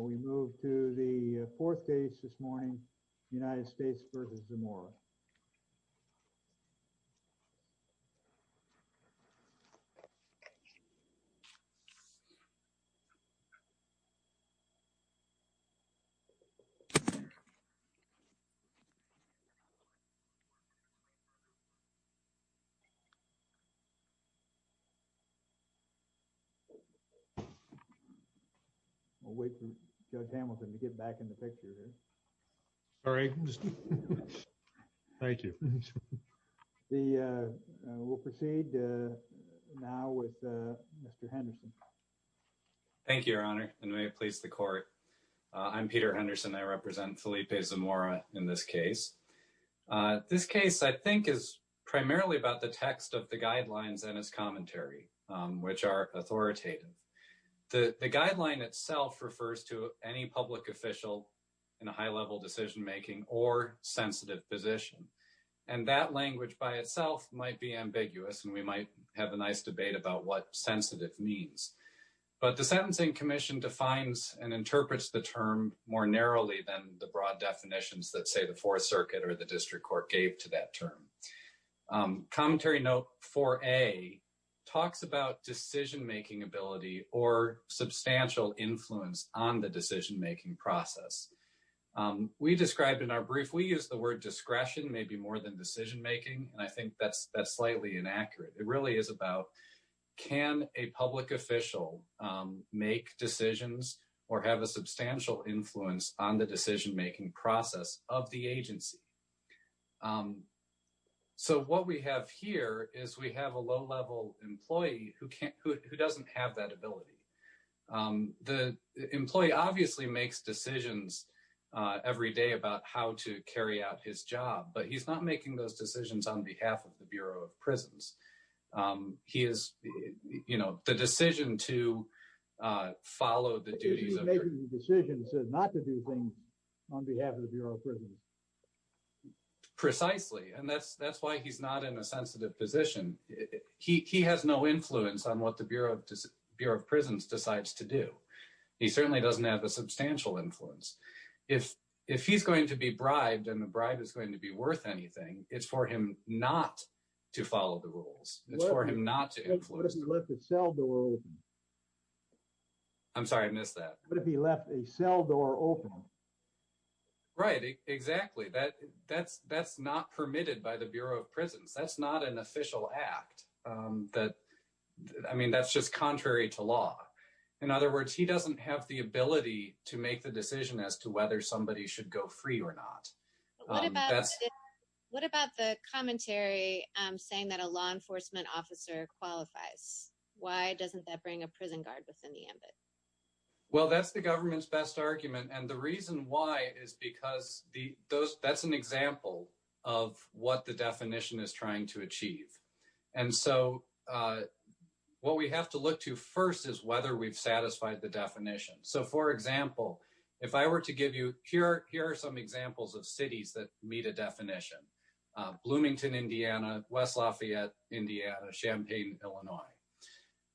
We move to the fourth case this morning, United States v. Zamora We'll wait for Judge Hamilton to get back in the picture here. Sorry. Thank you. We'll proceed now with Mr. Henderson. Thank you, Your Honor, and may it please the Court. I'm Peter Henderson. I represent Felipe Zamora in this case. This case, I think, is primarily about the text of the guidelines and its commentary, which are authoritative. The guideline itself refers to any public official in a high-level decision-making or sensitive position. And that language by itself might be ambiguous, and we might have a nice debate about what sensitive means. But the Sentencing Commission defines and interprets the term more narrowly than the broad definitions that, say, the Fourth Circuit or the District Court gave to that term. Commentary note 4A talks about decision-making ability or substantial influence on the decision-making process. We describe in our brief, we use the word discretion maybe more than decision-making, and I think that's slightly inaccurate. It really is about can a public official make decisions or have a substantial influence on the decision-making process of the agency? So what we have here is we have a low-level employee who doesn't have that ability. The employee obviously makes decisions every day about how to carry out his job, but he's not making those decisions on behalf of the Bureau of Prisons. He is, you know, the decision to follow the duties of… He's making decisions not to do things on behalf of the Bureau of Prisons. Precisely, and that's why he's not in a sensitive position. He has no influence on what the Bureau of Prisons decides to do. He certainly doesn't have a substantial influence. If he's going to be bribed and the bribe is going to be worth anything, it's for him not to follow the rules. It's for him not to influence. What if he left a cell door open? I'm sorry, I missed that. What if he left a cell door open? Right, exactly. That's not permitted by the Bureau of Prisons. That's not an official act. I mean, that's just contrary to law. In other words, he doesn't have the ability to make the decision as to whether somebody should go free or not. What about the commentary saying that a law enforcement officer qualifies? Why doesn't that bring a prison guard within the ambit? Well, that's the government's best argument. And the reason why is because that's an example of what the definition is trying to achieve. And so what we have to look to first is whether we've satisfied the definition. So, for example, if I were to give you – here are some examples of cities that meet a definition. Bloomington, Indiana, West Lafayette, Indiana, Champaign, Illinois.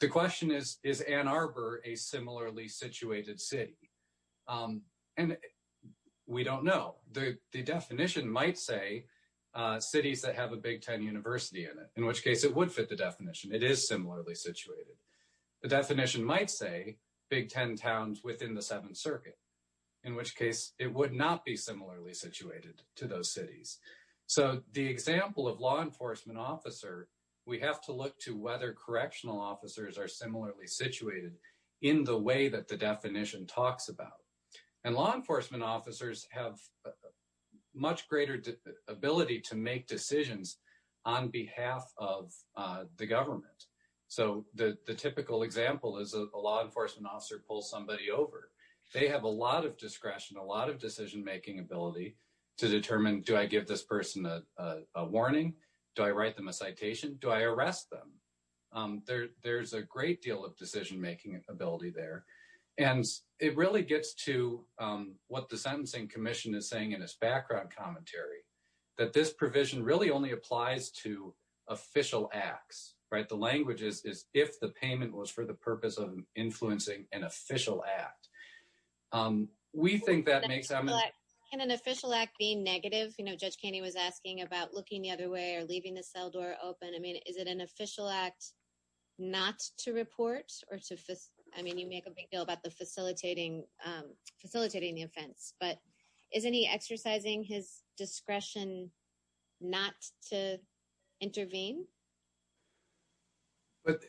The question is, is Ann Arbor a similarly situated city? And we don't know. The definition might say cities that have a Big Ten university in it, in which case it would fit the definition. It is similarly situated. The definition might say Big Ten towns within the Seventh Circuit, in which case it would not be similarly situated to those cities. So the example of law enforcement officer, we have to look to whether correctional officers are similarly situated in the way that the definition talks about. And law enforcement officers have much greater ability to make decisions on behalf of the government. So the typical example is a law enforcement officer pulls somebody over. They have a lot of discretion, a lot of decision-making ability to determine, do I give this person a warning? Do I write them a citation? Do I arrest them? There's a great deal of decision-making ability there. And it really gets to what the Sentencing Commission is saying in its background commentary, that this provision really only applies to official acts. The language is, if the payment was for the purpose of influencing an official act. We think that makes sense. Can an official act be negative? You know, Judge Kenney was asking about looking the other way or leaving the cell door open. I mean, is it an official act not to report? I mean, you make a big deal about facilitating the offense. But isn't he exercising his discretion not to intervene? But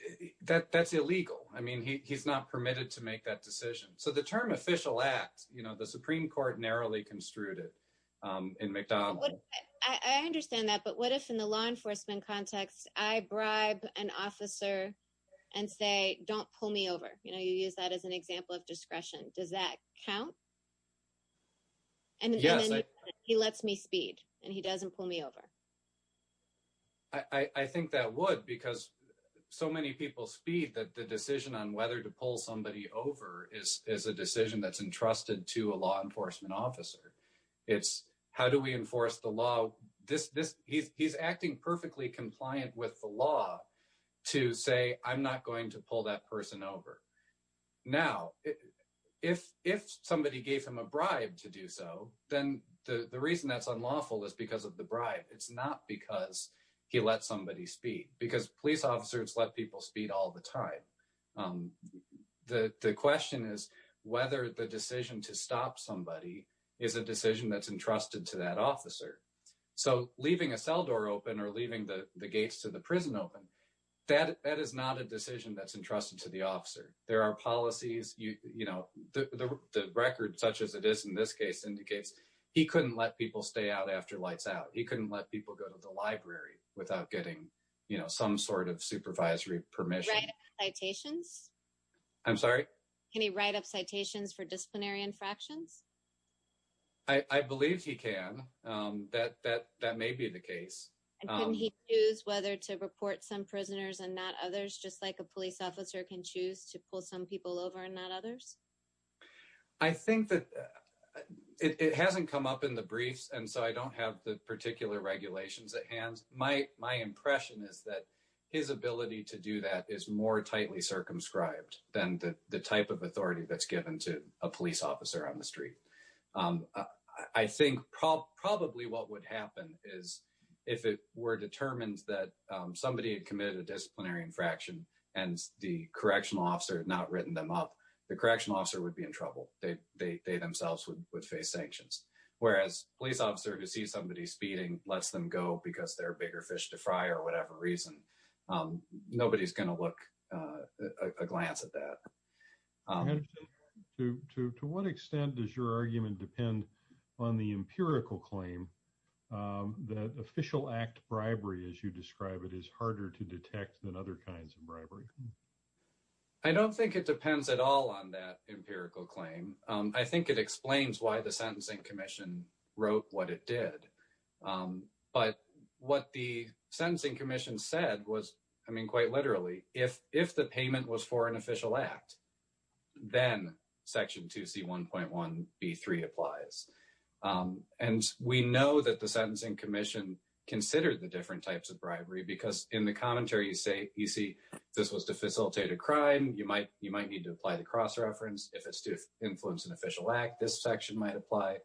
that's illegal. I mean, he's not permitted to make that decision. So the term official act, you know, the Supreme Court narrowly construed it in McDonald. I understand that. But what if in the law enforcement context, I bribe an officer and say, don't pull me over? You know, you use that as an example of discretion. Does that count? And then he lets me speed and he doesn't pull me over. I think that would because so many people speed that the decision on whether to pull somebody over is a decision that's entrusted to a law enforcement officer. It's how do we enforce the law? He's acting perfectly compliant with the law to say, I'm not going to pull that person over. Now, if somebody gave him a bribe to do so, then the reason that's unlawful is because of the bribe. It's not because he let somebody speed because police officers let people speed all the time. The question is whether the decision to stop somebody is a decision that's entrusted to that officer. So, leaving a cell door open or leaving the gates to the prison open, that is not a decision that's entrusted to the officer. There are policies, you know, the record such as it is in this case indicates he couldn't let people stay out after lights out. He couldn't let people go to the library without getting, you know, some sort of supervisory permission. Can he write up citations? I'm sorry? Can he write up citations for disciplinary infractions? I believe he can. That may be the case. And can he choose whether to report some prisoners and not others, just like a police officer can choose to pull some people over and not others? I think that it hasn't come up in the briefs, and so I don't have the particular regulations at hand. My impression is that his ability to do that is more tightly circumscribed than the type of authority that's given to a police officer on the street. I think probably what would happen is if it were determined that somebody had committed a disciplinary infraction and the correctional officer had not written them up, the correctional officer would be in trouble. They themselves would face sanctions, whereas a police officer who sees somebody speeding lets them go because they're a bigger fish to fry or whatever reason. Nobody's going to look a glance at that. To what extent does your argument depend on the empirical claim that official act bribery, as you describe it, is harder to detect than other kinds of bribery? I don't think it depends at all on that empirical claim. I think it explains why the Sentencing Commission wrote what it did. But what the Sentencing Commission said was, I mean, quite literally, if the payment was for an official act, then Section 2C1.1b3 applies. And we know that the Sentencing Commission considered the different types of bribery because in the commentary, you see this was to facilitate a crime. You might need to apply the cross-reference. If it's to influence an official act, this section might apply.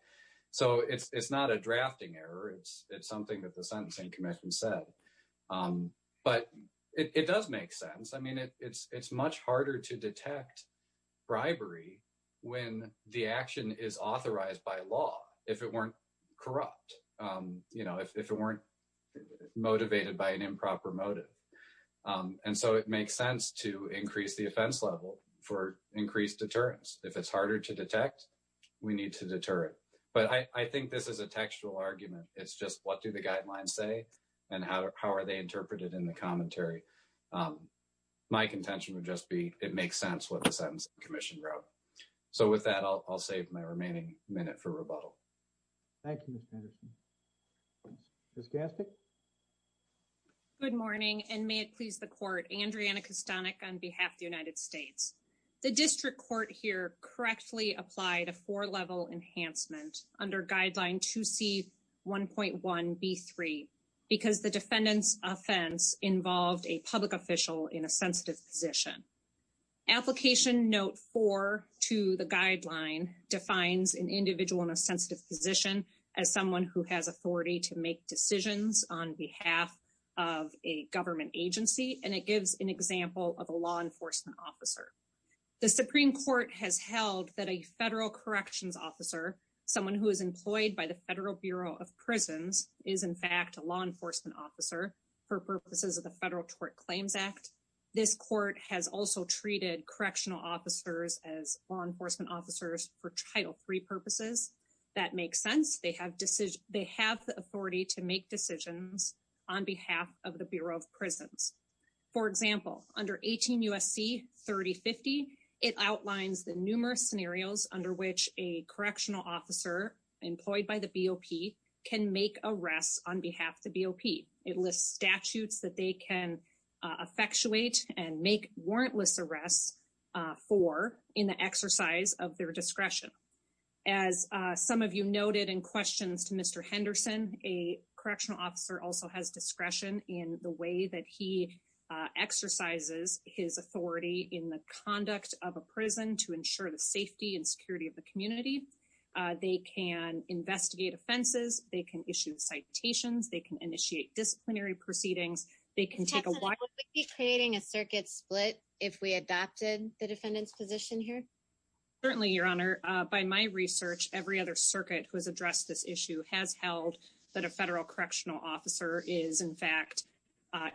So it's not a drafting error. It's something that the Sentencing Commission said. But it does make sense. I mean, it's much harder to detect bribery when the action is authorized by law, if it weren't corrupt, if it weren't motivated by an improper motive. And so it makes sense to increase the offense level for increased deterrence. If it's harder to detect, we need to deter it. But I think this is a textual argument. It's just what do the guidelines say and how are they interpreted in the commentary? My contention would just be it makes sense what the Sentencing Commission wrote. So with that, I'll save my remaining minute for rebuttal. Thank you, Ms. Patterson. Ms. Gastic? Good morning, and may it please the Court. Andriana Kostanek on behalf of the United States. The district court here correctly applied a four-level enhancement under Guideline 2C1.1b3 because the defendant's offense involved a public official in a sensitive position. Application Note 4 to the guideline defines an individual in a sensitive position as someone who has authority to make decisions on behalf of a government agency, and it gives an example of a law enforcement officer. The Supreme Court has held that a federal corrections officer, someone who is employed by the Federal Bureau of Prisons, is in fact a law enforcement officer for purposes of the Federal Tort Claims Act. This court has also treated correctional officers as law enforcement officers for Title III purposes. That makes sense. They have the authority to make decisions on behalf of the Bureau of Prisons. For example, under 18 U.S.C. 3050, it outlines the numerous scenarios under which a correctional officer employed by the BOP can make arrests on behalf of the BOP. It lists statutes that they can effectuate and make warrantless arrests for in the exercise of their discretion. As some of you noted in questions to Mr. Henderson, a correctional officer also has discretion in the way that he exercises his authority in the conduct of a prison to ensure the safety and security of the community. They can investigate offenses. They can issue citations. They can initiate disciplinary proceedings. They can take a watch. Would we be creating a circuit split if we adopted the defendant's position here? Certainly, Your Honor. By my research, every other circuit who has addressed this issue has held that a federal correctional officer is in fact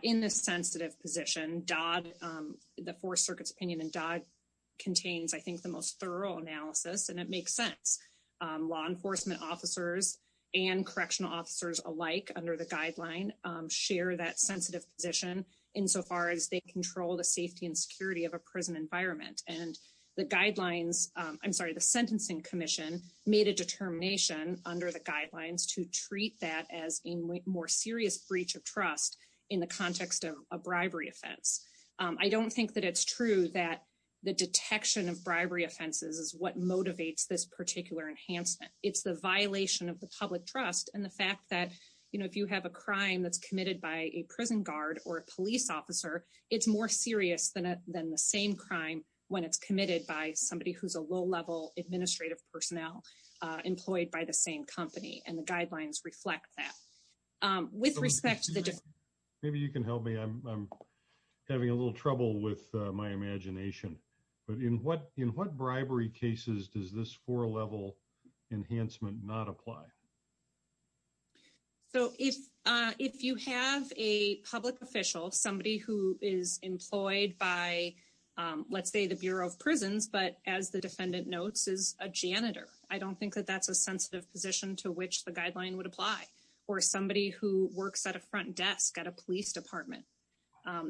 in this sensitive position. The Fourth Circuit's opinion in Dodd contains, I think, the most thorough analysis, and it makes sense. Law enforcement officers and correctional officers alike under the guideline share that sensitive position insofar as they control the safety and security of a prison environment. The Sentencing Commission made a determination under the guidelines to treat that as a more serious breach of trust in the context of a bribery offense. I don't think that it's true that the detection of bribery offenses is what motivates this particular enhancement. It's the violation of the public trust and the fact that, you know, if you have a crime that's committed by a prison guard or a police officer, it's more serious than the same crime when it's committed by somebody who's a low-level administrative personnel employed by the same company. And the guidelines reflect that. Maybe you can help me. I'm having a little trouble with my imagination. But in what bribery cases does this four-level enhancement not apply? So if you have a public official, somebody who is employed by, let's say, the Bureau of Prisons, but as the defendant notes, is a janitor, I don't think that that's a sensitive position to which the guideline would apply. Or somebody who works at a front desk at a police department,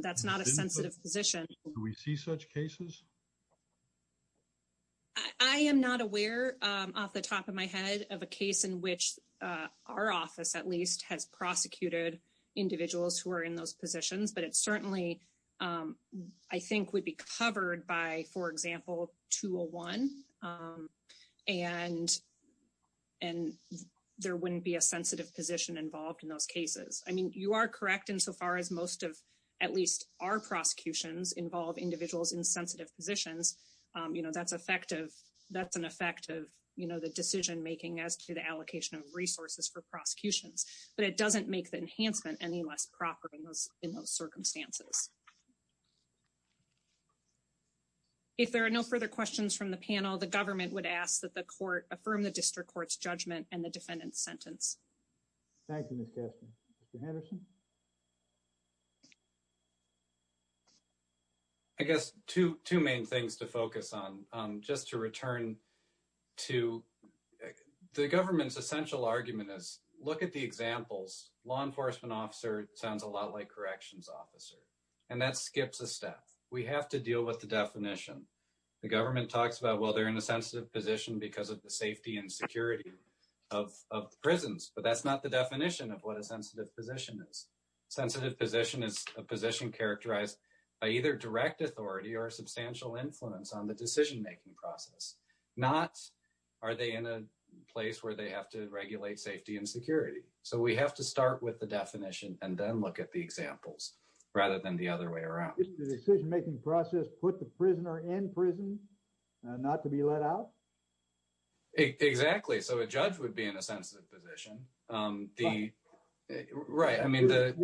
that's not a sensitive position. Do we see such cases? I am not aware off the top of my head of a case in which our office, at least, has prosecuted individuals who are in those positions. But it certainly, I think, would be covered by, for example, 201. And there wouldn't be a sensitive position involved in those cases. I mean, you are correct insofar as most of, at least, our prosecutions involve individuals in sensitive positions. You know, that's an effect of, you know, the decision-making as to the allocation of resources for prosecutions. But it doesn't make the enhancement any less proper in those circumstances. If there are no further questions from the panel, the government would ask that the court affirm the district court's judgment and the defendant's sentence. Thank you, Ms. Kastner. Mr. Henderson? I guess two main things to focus on. Just to return to the government's essential argument is, look at the examples. Law enforcement officer sounds a lot like corrections officer. And that skips a step. We have to deal with the definition. The government talks about, well, they're in a sensitive position because of the safety and security of prisons. But that's not the definition of what a sensitive position is. A sensitive position is a position characterized by either direct authority or substantial influence on the decision-making process. Not are they in a place where they have to regulate safety and security. So we have to start with the definition and then look at the examples rather than the other way around. Isn't the decision-making process put the prisoner in prison and not to be let out? Exactly. So a judge would be in a sensitive position. Your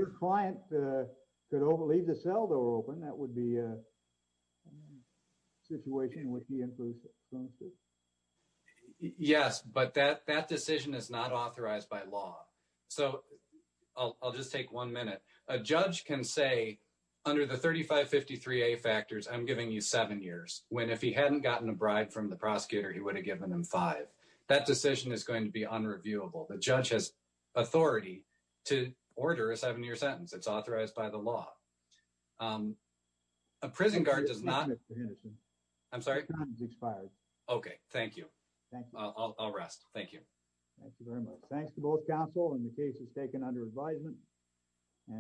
client could leave the cell door open. That would be a situation with the influence. Yes, but that decision is not authorized by law. So I'll just take one minute. A judge can say, under the 3553A factors, I'm giving you seven years. When if he hadn't gotten a bribe from the prosecutor, he would have given him five. That decision is going to be unreviewable. The judge has authority to order a seven-year sentence. It's authorized by the law. A prison guard does not... Mr. Henderson, your time has expired. Okay, thank you. I'll rest. Thank you. Thank you very much. Thanks to both counsel and the cases taken under advisement.